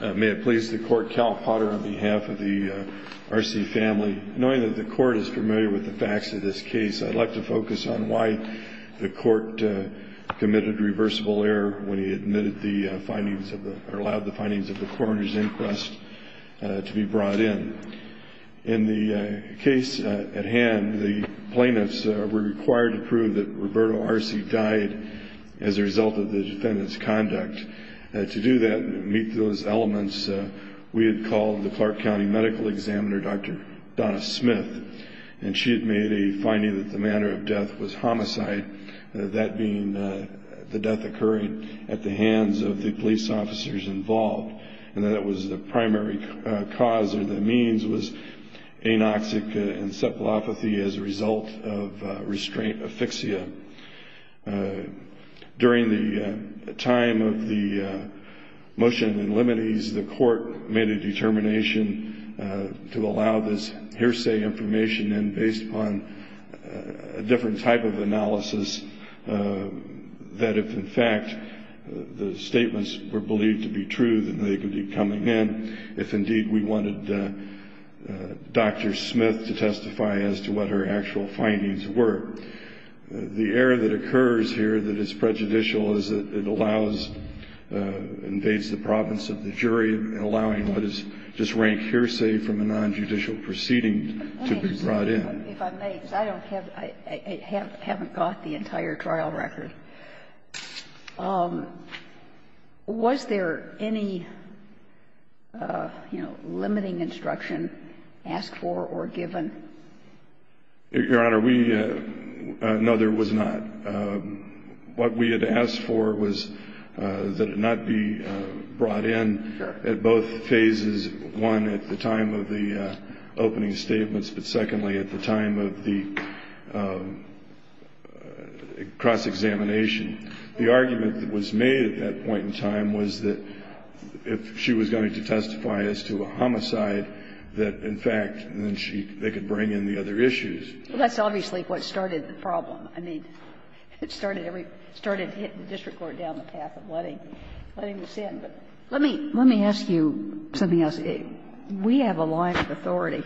May it please the court, Cal Potter on behalf of the Arce family. Knowing that the court is familiar with the facts of this case, I'd like to focus on why the court committed reversible error when he admitted the findings, or allowed the findings of the coroner's inquest to be brought in. In the case at hand, the plaintiffs were required to prove that Roberto Arce died as a result of the defendant's conduct. To do that and meet those elements, we had called the Clark County Medical Examiner, Dr. Donna Smith, and she had made a finding that the manner of death was homicide, that being the death occurring at the hands of the police officers involved. And that was the primary cause or the means was anoxic encephalopathy as a result of restraint asphyxia. During the time of the motion in limines, the court made a determination to allow this hearsay information in based upon a different type of analysis, that if in fact the statements were believed to be true, then they could be coming in. If indeed we wanted Dr. Smith to testify as to what her actual findings were, the error that occurs here that is prejudicial is that it allows, invades the province of the jury, allowing what is just rank hearsay from a nonjudicial proceeding to be brought in. If I may, because I don't have, I haven't got the entire trial record, was there any, you know, limiting instruction asked for or given? Your Honor, we, no there was not. What we had asked for was that it not be brought in at both phases, one at the time of the opening statements, but secondly at the time of the cross-examination. And the argument that was made at that point in time was that if she was going to testify as to a homicide, that in fact then she, they could bring in the other issues. Well, that's obviously what started the problem. I mean, it started every, started hitting the district court down the path of letting, letting us in. But let me, let me ask you something else. We have a line of authority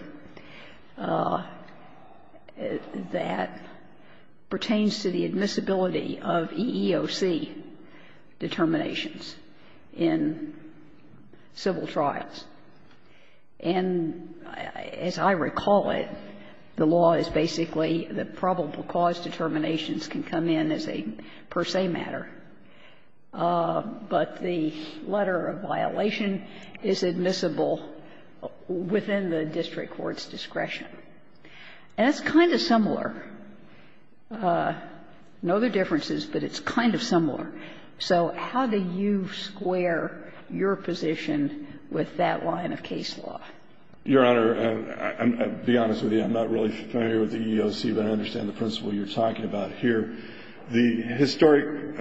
that pertains to the admissibility of EEOC determinations in civil trials. And as I recall it, the law is basically that probable cause determinations can come in as a per se matter. But the letter of violation is admissible within the district court's discretion. And that's kind of similar. No other differences, but it's kind of similar. So how do you square your position with that line of case law? Your Honor, I'll be honest with you. I'm not really familiar with the EEOC, but I understand the principle you're talking about here. The historic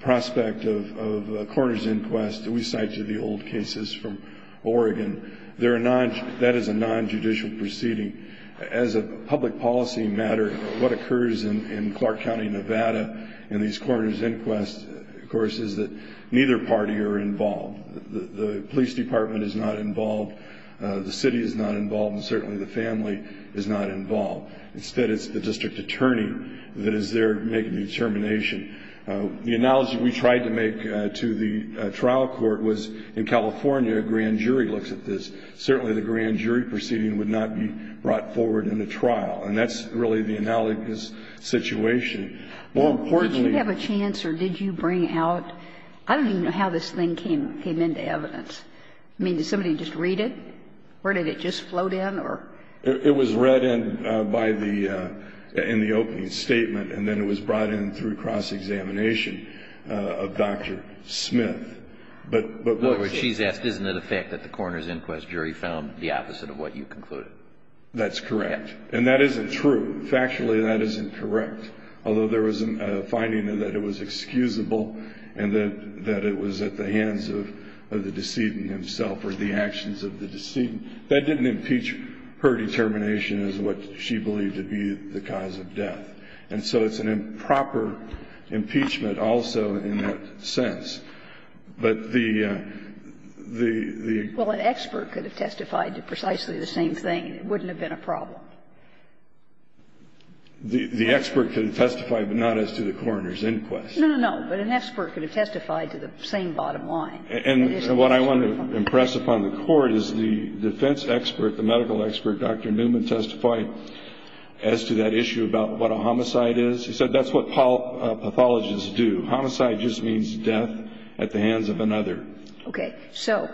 prospect of a coroner's inquest that we cite to the old cases from Oregon, that is a nonjudicial proceeding. As a public policy matter, what occurs in Clark County, Nevada in these coroner's inquests, of course, is that neither party are involved. The police department is not involved. The city is not involved. And certainly the family is not involved. Instead, it's the district attorney that is there making the determination. The analogy we tried to make to the trial court was in California, a grand jury looks at this. Certainly the grand jury proceeding would not be brought forward in a trial. And that's really the analogous situation. More importantly ---- Did you have a chance or did you bring out ---- I don't even know how this thing came into evidence. I mean, did somebody just read it? Or did it just float in or ---- It was read in by the ---- in the opening statement. And then it was brought in through cross-examination of Dr. Smith. But what ---- In other words, she's asked, isn't it a fact that the coroner's inquest jury found the opposite of what you concluded? That's correct. And that isn't true. Factually, that isn't correct. Although there was a finding that it was excusable and that it was at the hands of the decedent himself or the actions of the decedent. That didn't impeach her determination as what she believed to be the cause of death. And so it's an improper impeachment also in that sense. But the ---- Well, an expert could have testified to precisely the same thing. It wouldn't have been a problem. The expert could have testified, but not as to the coroner's inquest. No, no, no. But an expert could have testified to the same bottom line. And what I want to impress upon the Court is the defense expert, the medical expert, Dr. Newman, testified as to that issue about what a homicide is. He said that's what pathologists do. Homicide just means death at the hands of another. Okay. So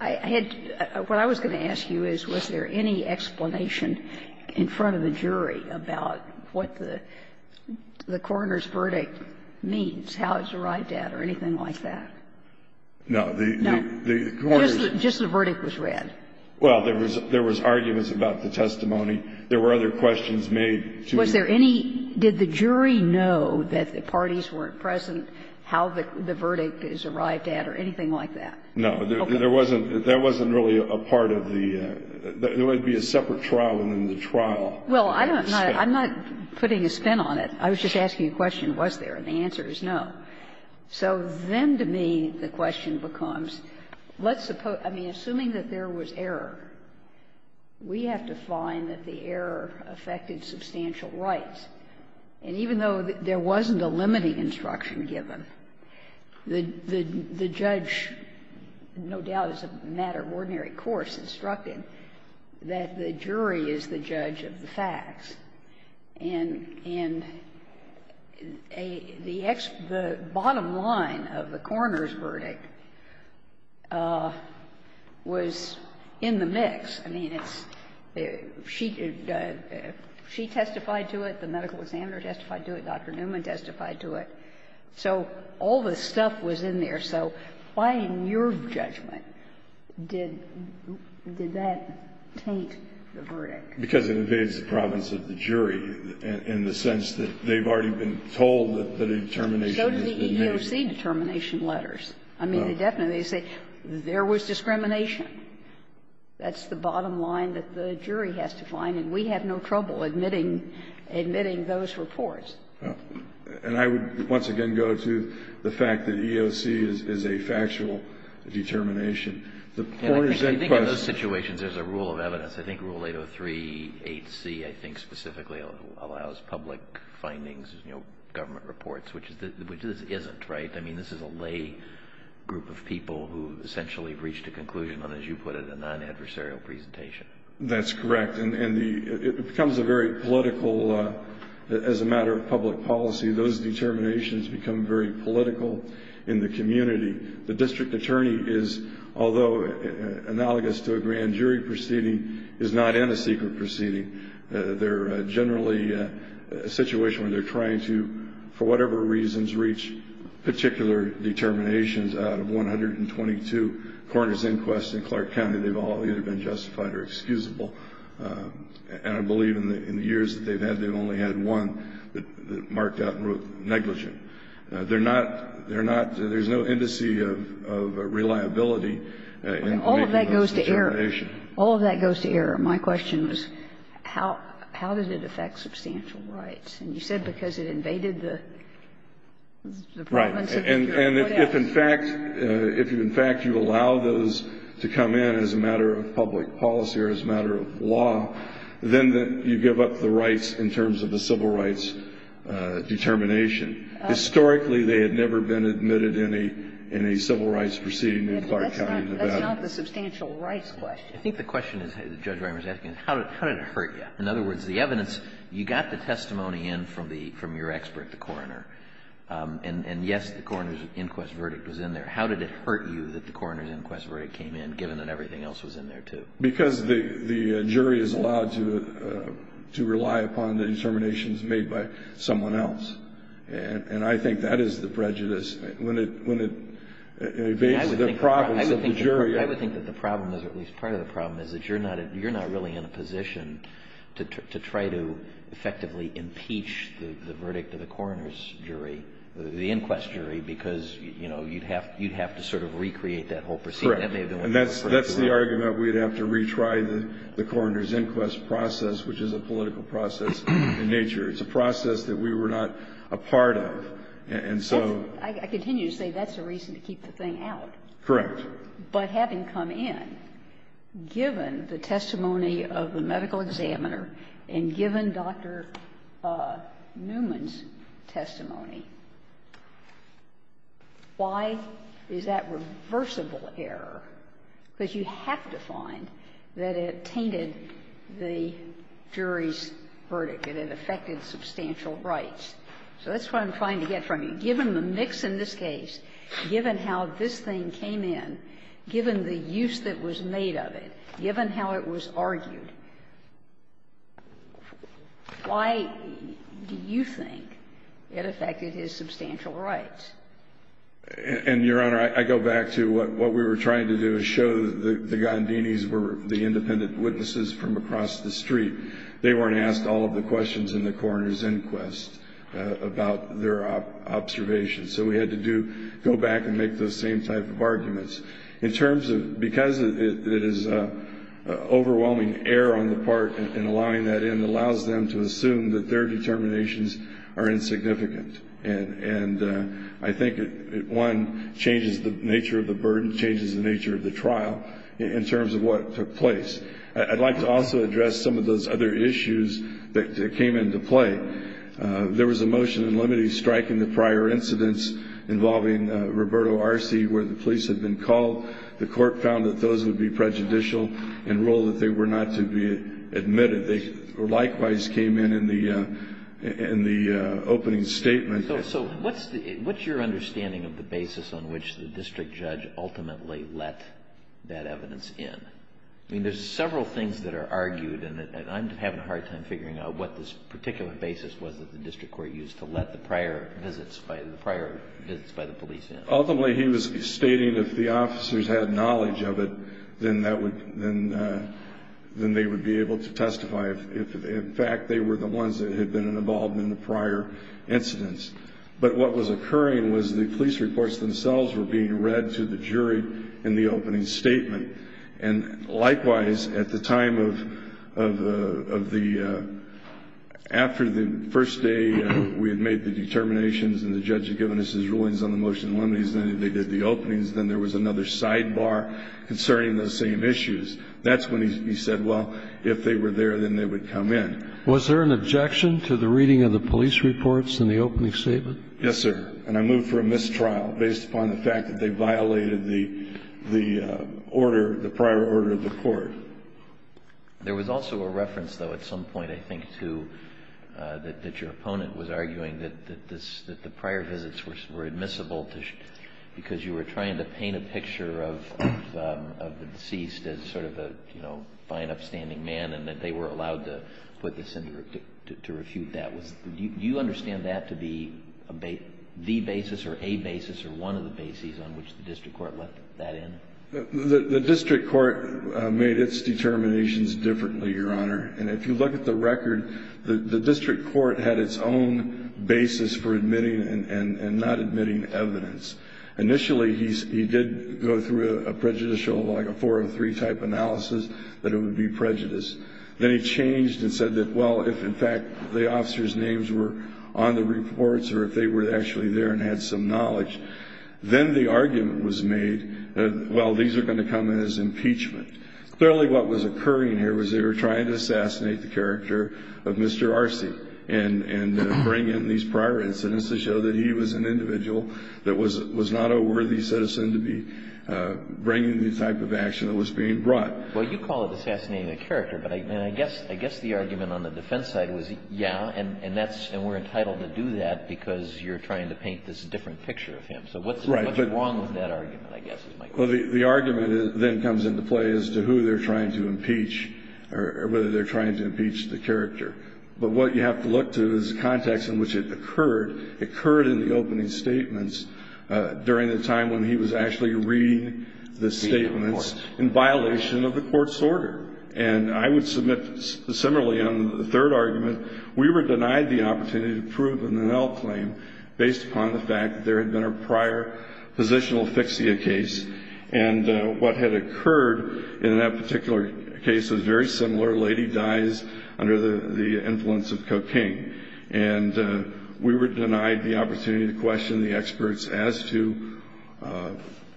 I had ---- what I was going to ask you is, was there any explanation in front of the jury about what the coroner's verdict means, how it's arrived at or anything like that? No. The coroner's ---- No. Just the verdict was read. Well, there was arguments about the testimony. There were other questions made to the ---- Was there any ---- did the jury know that the parties weren't present, how the verdict is arrived at or anything like that? No. There wasn't really a part of the ---- there would be a separate trial within the trial. Well, I'm not putting a spin on it. I was just asking a question, was there? And the answer is no. So then to me, the question becomes, let's suppose ---- I mean, assuming that there was error, we have to find that the error affected substantial rights. And even though there wasn't a limiting instruction given, the judge, no doubt as a matter of ordinary course, instructed that the jury is the judge of the facts. And the bottom line of the coroner's verdict was in the mix. I mean, it's ---- she testified to it, the medical examiner testified to it, Dr. Newman testified to it. So all the stuff was in there. So why in your judgment did that taint the verdict? Because it invades the province of the jury in the sense that they've already been told that the determination has been made. So did the EEOC determination letters. I mean, they definitely say there was discrimination. That's the bottom line that the jury has to find, and we have no trouble admitting those reports. And I would once again go to the fact that EEOC is a factual determination. The coroner's inquest ---- I think in those situations there's a rule of evidence. I think Rule 803.8c I think specifically allows public findings, you know, government reports, which this isn't, right? I mean, this is a lay group of people who essentially have reached a conclusion on, as you put it, a non-adversarial presentation. That's correct. And it becomes a very political, as a matter of public policy, those determinations become very political in the community. The district attorney is, although analogous to a grand jury proceeding, is not in a secret proceeding. They're generally a situation where they're trying to, for whatever reasons, reach particular determinations out of 122 coroner's inquests in Clark County. They've all either been justified or excusable. And I believe in the years that they've had, they've only had one that marked out and wrote negligent. They're not ---- there's no indice of reliability in making those determinations. All of that goes to error. All of that goes to error. My question was, how did it affect substantial rights? And you said because it invaded the province of Rhode Island. Right. And if, in fact, you allow those to come in as a matter of public policy or as a matter of law, then you give up the rights in terms of the civil rights determination. Historically, they had never been admitted in a civil rights proceeding in Clark County, Nevada. That's not the substantial rights question. I think the question that Judge Reimer is asking is, how did it hurt you? In other words, the evidence, you got the testimony in from your expert, the coroner. And yes, the coroner's inquest verdict was in there. How did it hurt you that the coroner's inquest verdict came in, given that everything else was in there, too? Because the jury is allowed to rely upon the determinations made by someone else. And I think that is the prejudice, when it invades the province of the jury. I would think that the problem, or at least part of the problem, is that you're not really in a position to try to effectively impeach the verdict of the coroner's jury, the inquest jury, because you'd have to sort of recreate that whole proceeding. Correct. And that's the argument. We'd have to retry the coroner's inquest process, which is a political process in nature. It's a process that we were not a part of. And so ---- I continue to say that's the reason to keep the thing out. Correct. But having come in, given the testimony of the medical examiner and given Dr. Newman's testimony, why is that reversible error? Because you have to find that it tainted the jury's verdict and it affected substantial rights. So that's what I'm trying to get from you. Given the mix in this case, given how this thing came in, given the use that was made of it, given how it was argued, why do you think it affected his substantial rights? And, Your Honor, I go back to what we were trying to do. Show that the Gandinis were the independent witnesses from across the street. They weren't asked all of the questions in the coroner's inquest about their observations. So we had to go back and make those same type of arguments. Because it is overwhelming error on the part in allowing that in, it allows them to assume that their determinations are insignificant. And I think it, one, changes the nature of the burden, changes the nature of the trial in terms of what took place. I'd like to also address some of those other issues that came into play. There was a motion in limine striking the prior incidents involving Roberto Arce where the police had been called. The court found that those would be prejudicial and ruled that they were not to be admitted. They likewise came in in the opening statement. So what's your understanding of the basis on which the district judge ultimately let that evidence in? I mean, there's several things that are argued, and I'm having a hard time figuring out what this particular basis was that the district court used to let the prior visits by the police in. Ultimately, he was stating if the officers had knowledge of it, then they would be able to testify if, in fact, they were the ones that had been involved in the prior incidents. But what was occurring was the police reports themselves were being read to the jury in the opening statement. And likewise, at the time of the, after the first day we had made the determinations and the judge had given us his rulings on the motion in limine, then they did the openings, then there was another sidebar concerning those same issues. That's when he said, well, if they were there, then they would come in. Was there an objection to the reading of the police reports in the opening statement? Yes, sir. And I move for a mistrial based upon the fact that they violated the order, the prior order of the court. There was also a reference, though, at some point, I think, to that your opponent was arguing that the prior visits were admissible because you were trying to paint a picture of the deceased as sort of a fine, upstanding man and that they were allowed to refute that. Do you understand that to be the basis or a basis or one of the bases on which the district court let that in? The district court made its determinations differently, Your Honor. And if you look at the record, the district court had its own basis for admitting and not admitting evidence. Initially, he did go through a prejudicial, like a 403 type analysis that it would be prejudice. Then he changed and said that, well, if, in fact, the officer's names were on the reports or if they were actually there and had some knowledge, then the argument was made that, well, these are going to come as impeachment. Clearly, what was occurring here was they were trying to assassinate the character of Mr. Arce and bring in these prior incidents to show that he was an individual that was not a worthy citizen to be bringing the type of action that was being brought. Well, you call it assassinating a character, but I guess the argument on the defense side was, yeah, and we're entitled to do that because you're trying to paint this different picture of him. So what's wrong with that argument, I guess, is my question. Well, the argument then comes into play as to who they're trying to impeach or whether they're trying to impeach the character. But what you have to look to is the context in which it occurred. It occurred in the opening statements during the time when he was actually reading the statements in violation of the court's order. And I would submit similarly on the third argument, we were denied the opportunity to prove an NL claim based upon the fact that there had been a prior positional fixia case. And what had occurred in that particular case was very similar. A lady dies under the influence of cocaine. And we were denied the opportunity to question the experts as to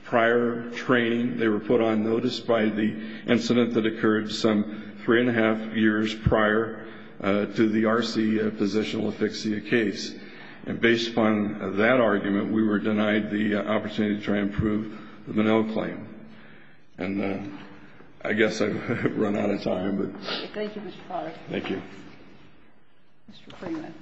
prior training. They were put on notice by the incident that occurred some three and a half years prior to the RC positional fixia case. And based upon that argument, we were denied the opportunity to try and prove the Menil claim. And I guess I've run out of time. Thank you, Mr. Clark. Thank you. Mr. Freeman.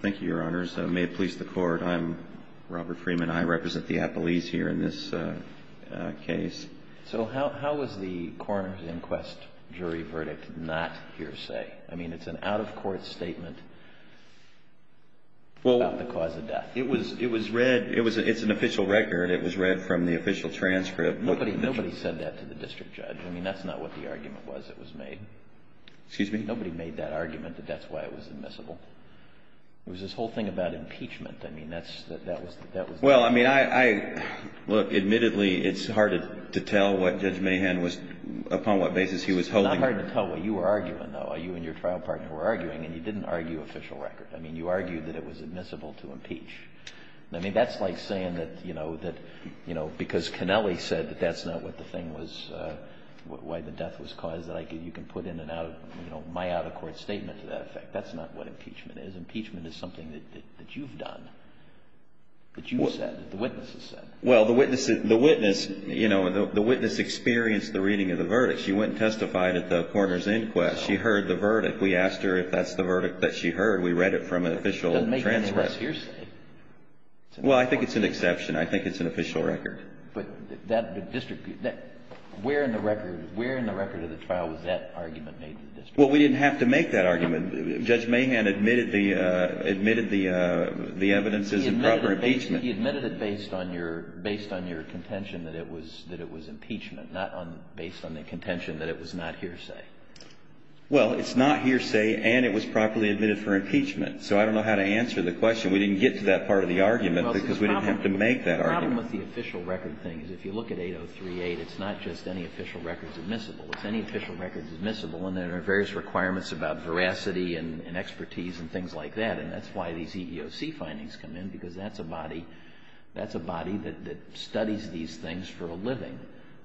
Thank you, Your Honors. May it please the Court. I'm Robert Freeman. I represent the appellees here in this case. So how is the coroner's inquest jury verdict not hearsay? I mean, it's an out-of-court statement about the cause of death. It was read. It's an official record. It was read from the official transcript. Nobody said that to the district judge. I mean, that's not what the argument was that was made. Excuse me? Nobody made that argument, but that's why it was admissible. It was this whole thing about impeachment. I mean, that was the argument. Well, I mean, look, admittedly, it's hard to tell what Judge Mahan was upon what basis he was holding. It's hard to tell what you were arguing, though, or you and your trial partner were arguing, and you didn't argue official record. I mean, you argued that it was admissible to impeach. I mean, that's like saying that, you know, that, you know, because Connelly said that that's not what the thing was, why the death was caused, that you can put in and out of, you know, my out-of-court statement to that effect. That's not what impeachment is. Impeachment is something that you've done, that you said, that the witnesses said. Well, the witness, you know, the witness experienced the reading of the verdict. She went and testified at the coroner's inquest. She heard the verdict. We asked her if that's the verdict that she heard. We read it from an official transcript. It doesn't make any less hearsay. Well, I think it's an exception. I think it's an official record. But that district, where in the record, where in the record of the trial was that argument made? Well, we didn't have to make that argument. Judge Mahan admitted the evidence is improper impeachment. He admitted it based on your contention that it was impeachment, not based on the contention that it was not hearsay. Well, it's not hearsay, and it was properly admitted for impeachment. So I don't know how to answer the question. We didn't get to that part of the argument because we didn't have to make that argument. Well, the problem with the official record thing is if you look at 8038, it's not just any official records admissible. It's any official records admissible, and there are various requirements about veracity and expertise and things like that. And that's why these EEOC findings come in, because that's a body that studies these things for a living,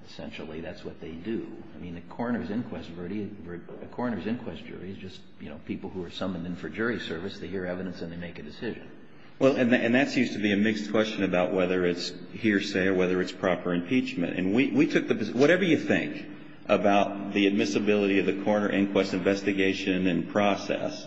essentially. That's what they do. I mean, a coroner's inquest jury is just, you know, people who are summoned in for jury service. They hear evidence, and they make a decision. Well, and that seems to be a mixed question about whether it's hearsay or whether it's proper impeachment. And we took the – whatever you think about the admissibility of the coroner inquest investigation and process,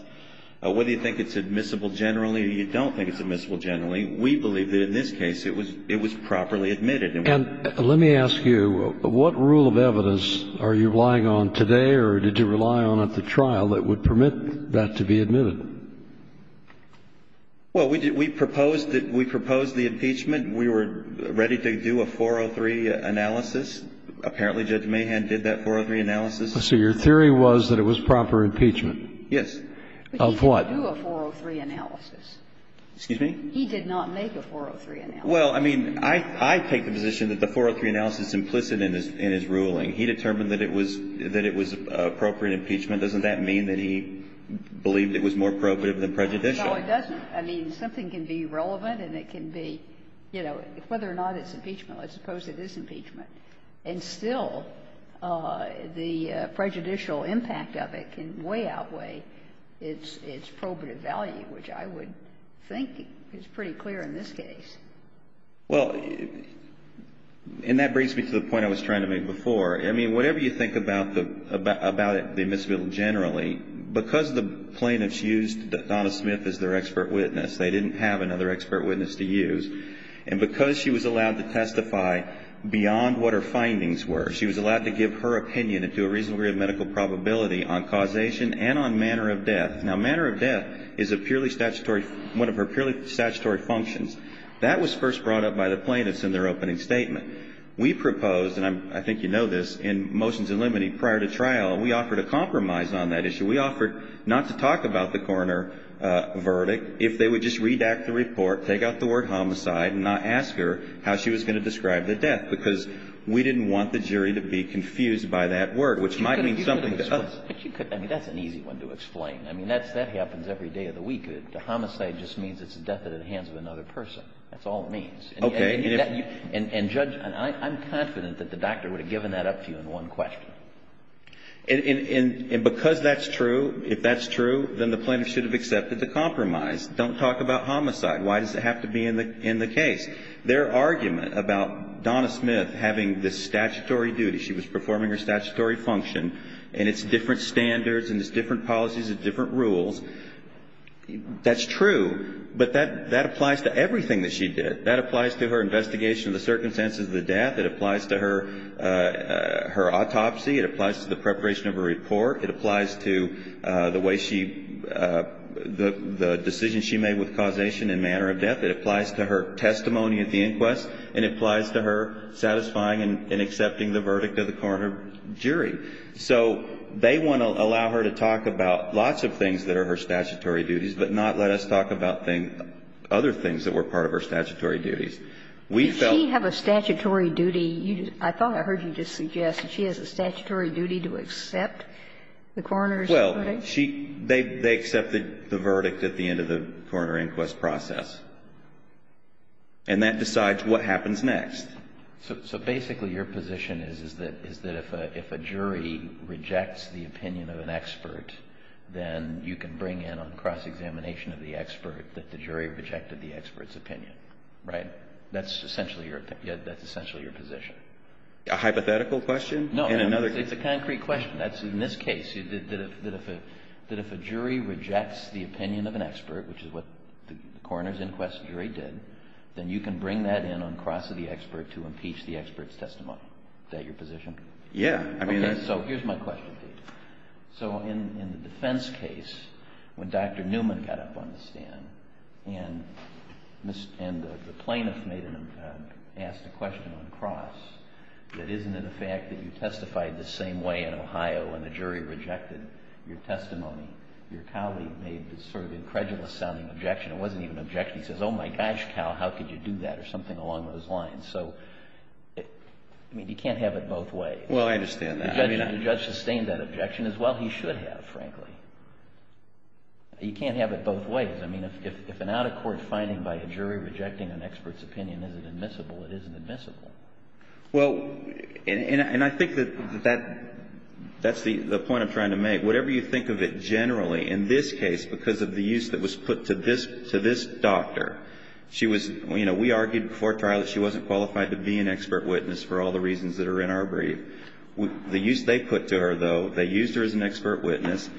whether you think it's admissible generally or you don't think it's admissible generally, we believe that in this case it was properly admitted. And let me ask you, what rule of evidence are you relying on today or did you rely on at the trial that would permit that to be admitted? Well, we proposed the impeachment. We were ready to do a 403 analysis. Apparently Judge Mahan did that 403 analysis. So your theory was that it was proper impeachment? Yes. Of what? But you didn't do a 403 analysis. Excuse me? He did not make a 403 analysis. Well, I mean, I take the position that the 403 analysis is implicit in his ruling. He determined that it was appropriate impeachment. Doesn't that mean that he believed it was more probative than prejudicial? No, it doesn't. I mean, something can be relevant and it can be, you know, whether or not it's impeachable as opposed to disimpeachment. And still, the prejudicial impact of it can way outweigh its probative value, which I would think is pretty clear in this case. Well, and that brings me to the point I was trying to make before. I mean, whatever you think about the admissible generally, because the plaintiffs used Donna Smith as their expert witness, they didn't have another expert witness to use. And because she was allowed to testify beyond what her findings were, she was allowed to give her opinion into a reasonable degree of medical probability on causation and on manner of death. Now, manner of death is a purely statutory, one of her purely statutory functions. That was first brought up by the plaintiffs in their opening statement. We proposed, and I think you know this, in Motions and Limiting prior to trial, we offered a compromise on that issue. We offered not to talk about the coroner verdict if they would just redact the report, take out the word homicide, and not ask her how she was going to describe the death, because we didn't want the jury to be confused by that word, which might mean something to others. But you could, I mean, that's an easy one to explain. I mean, that happens every day of the week. Homicide just means it's the death at the hands of another person. That's all it means. Okay. And judge, I'm confident that the doctor would have given that up to you in one question. And because that's true, if that's true, then the plaintiff should have accepted the compromise. Don't talk about homicide. Why does it have to be in the case? Their argument about Donna Smith having this statutory duty, she was performing her statutory function, and it's different standards and it's different policies and different rules. That's true. But that applies to everything that she did. That applies to her investigation of the circumstances of the death. It applies to her autopsy. It applies to the preparation of her report. It applies to the way she, the decision she made with causation and manner of death. It applies to her testimony at the inquest. And it applies to her satisfying and accepting the verdict of the coroner jury. So they want to allow her to talk about lots of things that are her statutory duties, but not let us talk about other things that were part of her statutory duties. Did she have a statutory duty? I thought I heard you just suggest that she has a statutory duty to accept the coroner's verdict? Well, they accepted the verdict at the end of the coroner inquest process. And that decides what happens next. So basically your position is that if a jury rejects the opinion of an expert, then you can bring in on cross-examination of the expert that the jury rejected the expert's opinion. Right? That's essentially your position. A hypothetical question? No. It's a concrete question. In this case, that if a jury rejects the opinion of an expert, which is what the coroner inquest jury did, then you can bring that in on cross of the expert to impeach the expert's testimony. Is that your position? Yeah. Okay. So here's my question to you. So in the defense case, when Dr. Newman got up on the stand and the plaintiff asked a question on cross, that isn't it a fact that you testified the same way in Ohio and the jury rejected your testimony? Your colleague made this sort of incredulous sounding objection. It wasn't even an objection. He says, oh, my gosh, Cal, how could you do that or something along those lines. So, I mean, you can't have it both ways. Well, I understand that. The judge sustained that objection as well he should have, frankly. You can't have it both ways. I mean, if an out-of-court finding by a jury rejecting an expert's opinion isn't admissible, it isn't admissible. Well, and I think that that's the point I'm trying to make. Whatever you think of it generally, in this case, because of the use that was put to this doctor, she was, you know, we argued before trial that she wasn't qualified to be an expert witness for all the reasons that are in our brief. The use they put to her, though, they used her as an expert witness,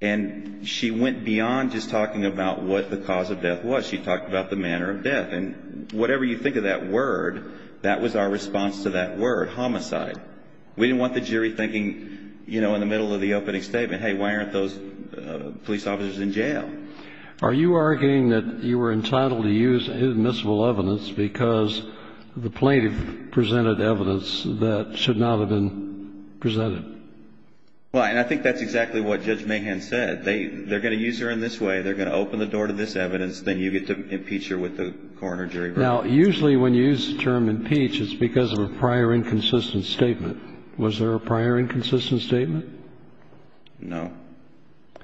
and she went beyond just talking about what the cause of death was. She talked about the manner of death. And whatever you think of that word, that was our response to that word, homicide. We didn't want the jury thinking, you know, in the middle of the opening statement, hey, why aren't those police officers in jail? Are you arguing that you were entitled to use admissible evidence because the plaintiff presented evidence that should not have been presented? Well, and I think that's exactly what Judge Mahan said. They're going to use her in this way. They're going to open the door to this evidence. Then you get to impeach her with the coroner jury verdict. Now, usually when you use the term impeach, it's because of a prior inconsistent statement. Was there a prior inconsistent statement? No.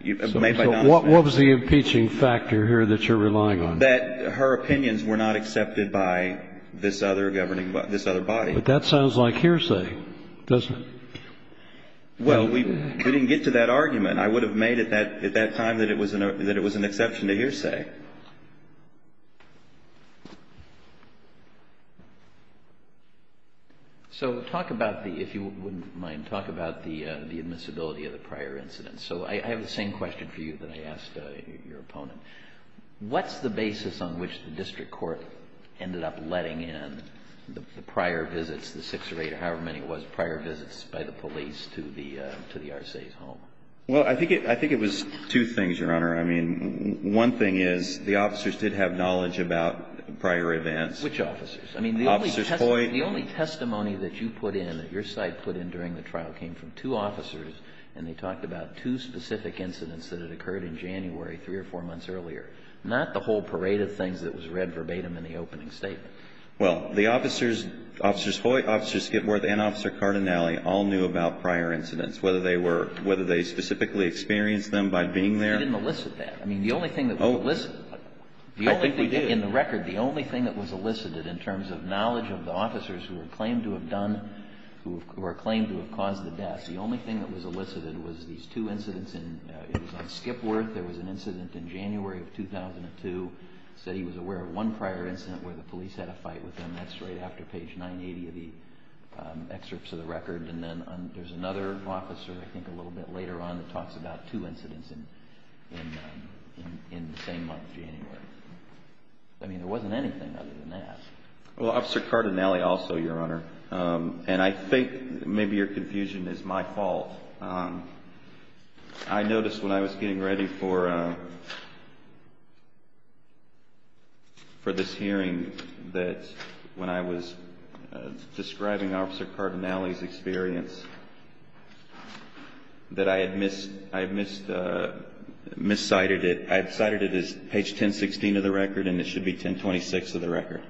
What was the impeaching factor here that you're relying on? That her opinions were not accepted by this other governing body, this other body. But that sounds like hearsay, doesn't it? Well, we didn't get to that argument. I would have made it at that time that it was an exception to hearsay. So talk about the, if you wouldn't mind, talk about the admissibility of the prior incidents. So I have the same question for you that I asked your opponent. What's the basis on which the district court ended up letting in the prior visits, the six or eight or however many it was, prior visits by the police to the RCA's home? Well, I think it was two things, Your Honor. I mean, one thing is the officers did have knowledge about prior events. Which officers? I mean, the only testimony that you put in, that your side put in during the trial came from two officers, and they talked about two specific incidents that had occurred in January three or four months earlier, not the whole parade of things that was read verbatim in the opening statement. Well, the officers, Officers Hoyt, Officers Skidworth, and Officer Cardinale all knew about prior incidents, whether they were, whether they specifically experienced them by being there. I didn't elicit that. I mean, the only thing that was elicited. I think we did. In the record, the only thing that was elicited in terms of knowledge of the officers who were claimed to have done, who were claimed to have caused the deaths, the only thing that was elicited was these two incidents. It was on Skidworth. There was an incident in January of 2002. It said he was aware of one prior incident where the police had a fight with him. That's right after page 980 of the excerpts of the record. And then there's another officer, I think a little bit later on, that talks about two incidents in the same month, January. I mean, there wasn't anything other than that. Well, Officer Cardinale also, Your Honor, and I think maybe your confusion is my fault. I noticed when I was getting ready for this hearing that when I was describing Officer Cardinale's experience, that I had miscited it. I had cited it as page 1016 of the record, and it should be 1026 of the record.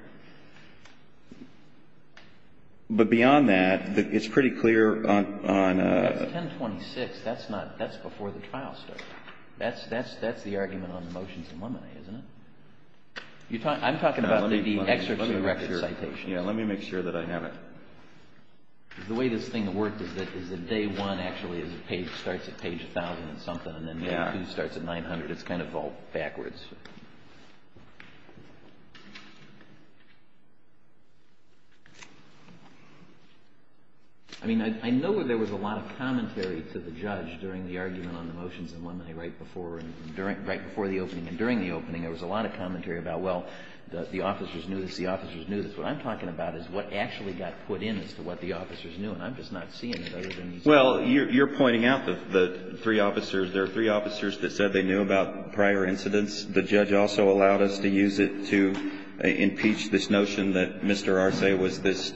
But beyond that, it's pretty clear on a ---- That's 1026. That's before the trial started. That's the argument on the motions in Lemonade, isn't it? I'm talking about the excerpts of the record citations. Yeah, let me make sure that I have it. The way this thing worked is that day one actually starts at page 1,000 and something, and then day two starts at 900. It's kind of all backwards. I mean, I know that there was a lot of commentary to the judge during the argument on the motions in Lemonade right before the opening. And during the opening, there was a lot of commentary about, well, the officers knew this. The officers knew this. What I'm talking about is what actually got put in as to what the officers knew. And I'm just not seeing it, other than you said. Well, you're pointing out the three officers. There are three officers that said they knew about prior incidents. The judge also allowed us to use it to impeach this notion that Mr. Arce was this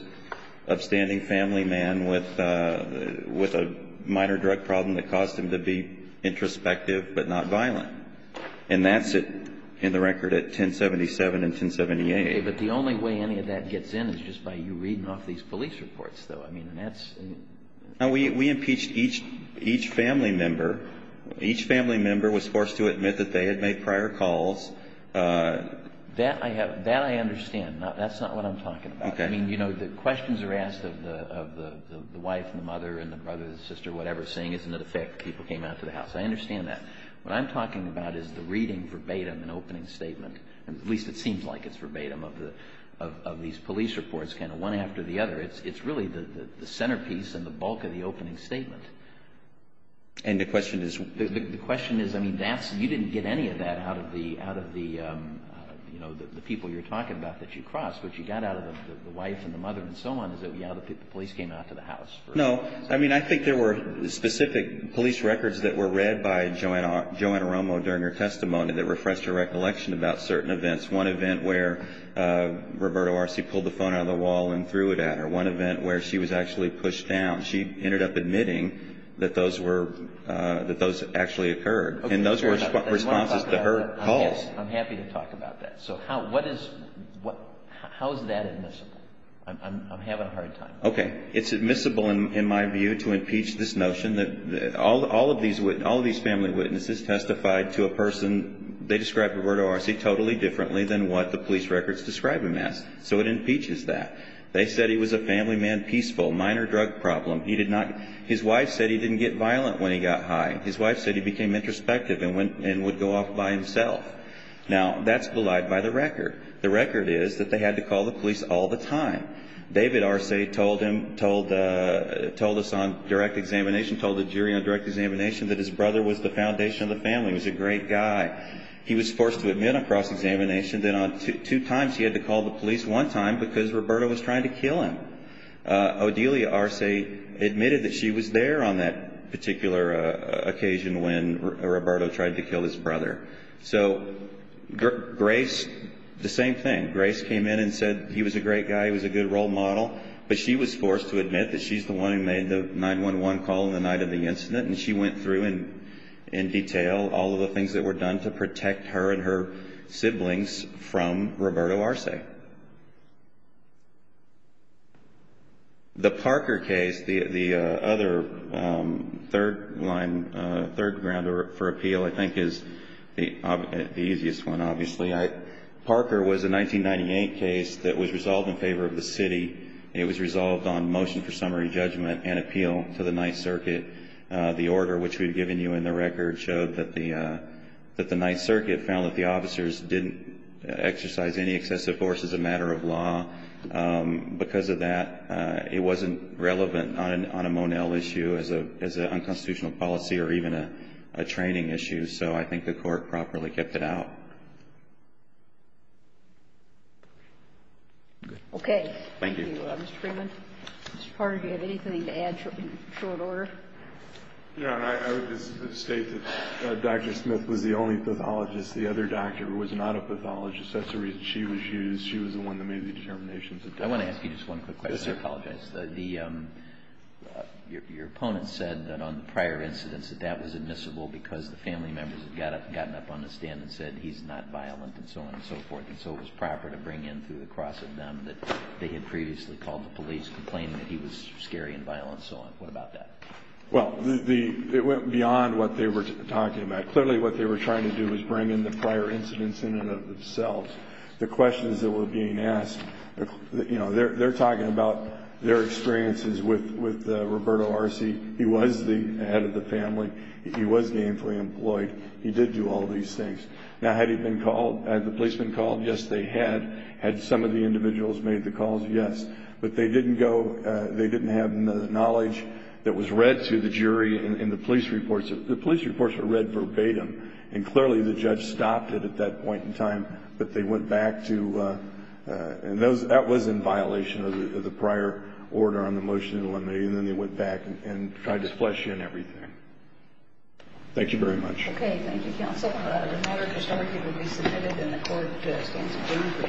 upstanding family man with a minor drug problem that caused him to be introspective but not violent. And that's it in the record at 1077 and 1078. But the only way any of that gets in is just by you reading off these police reports, though. I mean, that's... We impeached each family member. Each family member was forced to admit that they had made prior calls. That I understand. That's not what I'm talking about. Okay. I mean, you know, the questions are asked of the wife and the mother and the brother and the sister, whatever, saying isn't it a fact that people came out to the house. I understand that. What I'm talking about is the reading verbatim, an opening statement. At least it seems like it's verbatim of these police reports, kind of one after the other. It's really the centerpiece and the bulk of the opening statement. And the question is... The question is, I mean, you didn't get any of that out of the people you're talking about that you crossed. What you got out of the wife and the mother and so on is that, yeah, the police came out to the house. No. I mean, I think there were specific police records that were read by Joanna Romo during her testimony that refreshed her recollection about certain events. One event where Roberto Arce pulled the phone out of the wall and threw it at her. One event where she was actually pushed down. She ended up admitting that those actually occurred. And those were responses to her calls. I'm happy to talk about that. So how is that admissible? I'm having a hard time. Okay. It's admissible in my view to impeach this notion that all of these family witnesses testified to a person... They described Roberto Arce totally differently than what the police records describe him as. So it impeaches that. They said he was a family man, peaceful, minor drug problem. He did not... His wife said he didn't get violent when he got high. His wife said he became introspective and would go off by himself. Now, that's belied by the record. The record is that they had to call the police all the time. David Arce told us on direct examination, told the jury on direct examination, that his brother was the foundation of the family. He was a great guy. He was forced to admit on cross-examination that on two times he had to call the police one time because Roberto was trying to kill him. Odelia Arce admitted that she was there on that particular occasion when Roberto tried to kill his brother. So Grace, the same thing. Grace came in and said he was a great guy. He was a good role model. But she was forced to admit that she's the one who made the 911 call on the night of the incident. And she went through in detail all of the things that were done to protect her and her siblings from Roberto Arce. The Parker case, the other third line, third ground for appeal, I think is the easiest one, obviously. Parker was a 1998 case that was resolved in favor of the city. It was resolved on motion for summary judgment and appeal to the 9th Circuit. The order, which we've given you in the record, showed that the 9th Circuit found that the officers didn't exercise any excessive force as a matter of law. Because of that, it wasn't relevant on a Monell issue as an unconstitutional policy or even a training issue. So I think the Court properly kept it out. Okay. Thank you. Mr. Freeman? Mr. Parker, do you have anything to add in short order? Yeah. I would just state that Dr. Smith was the only pathologist. The other doctor was not a pathologist. That's the reason she was used. She was the one that made the determinations. I want to ask you just one quick question. Yes, sir. I apologize. Your opponent said that on the prior incidents that that was admissible because the family members had gotten up on the stand and said he's not violent and so on and so forth. And so it was proper to bring in through the cross of them that they had previously called the police complaining that he was scary and violent and so on. What about that? Well, it went beyond what they were talking about. Clearly what they were trying to do was bring in the prior incidents in and of themselves. The questions that were being asked, you know, they're talking about their experiences with Roberto Arce. He was the head of the family. He was gainfully employed. He did do all these things. Now, had he been called? Had the police been called? Yes, they had. Had some of the individuals made the calls? Yes. But they didn't go. They didn't have the knowledge that was read to the jury in the police reports. The police reports were read verbatim and clearly the judge stopped it at that point in time. But they went back to and that was in violation of the prior order on the motion. And then they went back and tried to flush in everything. Thank you very much. Okay. Thank you, counsel. The matter of historicity will be submitted and the court stands adjourned for the session.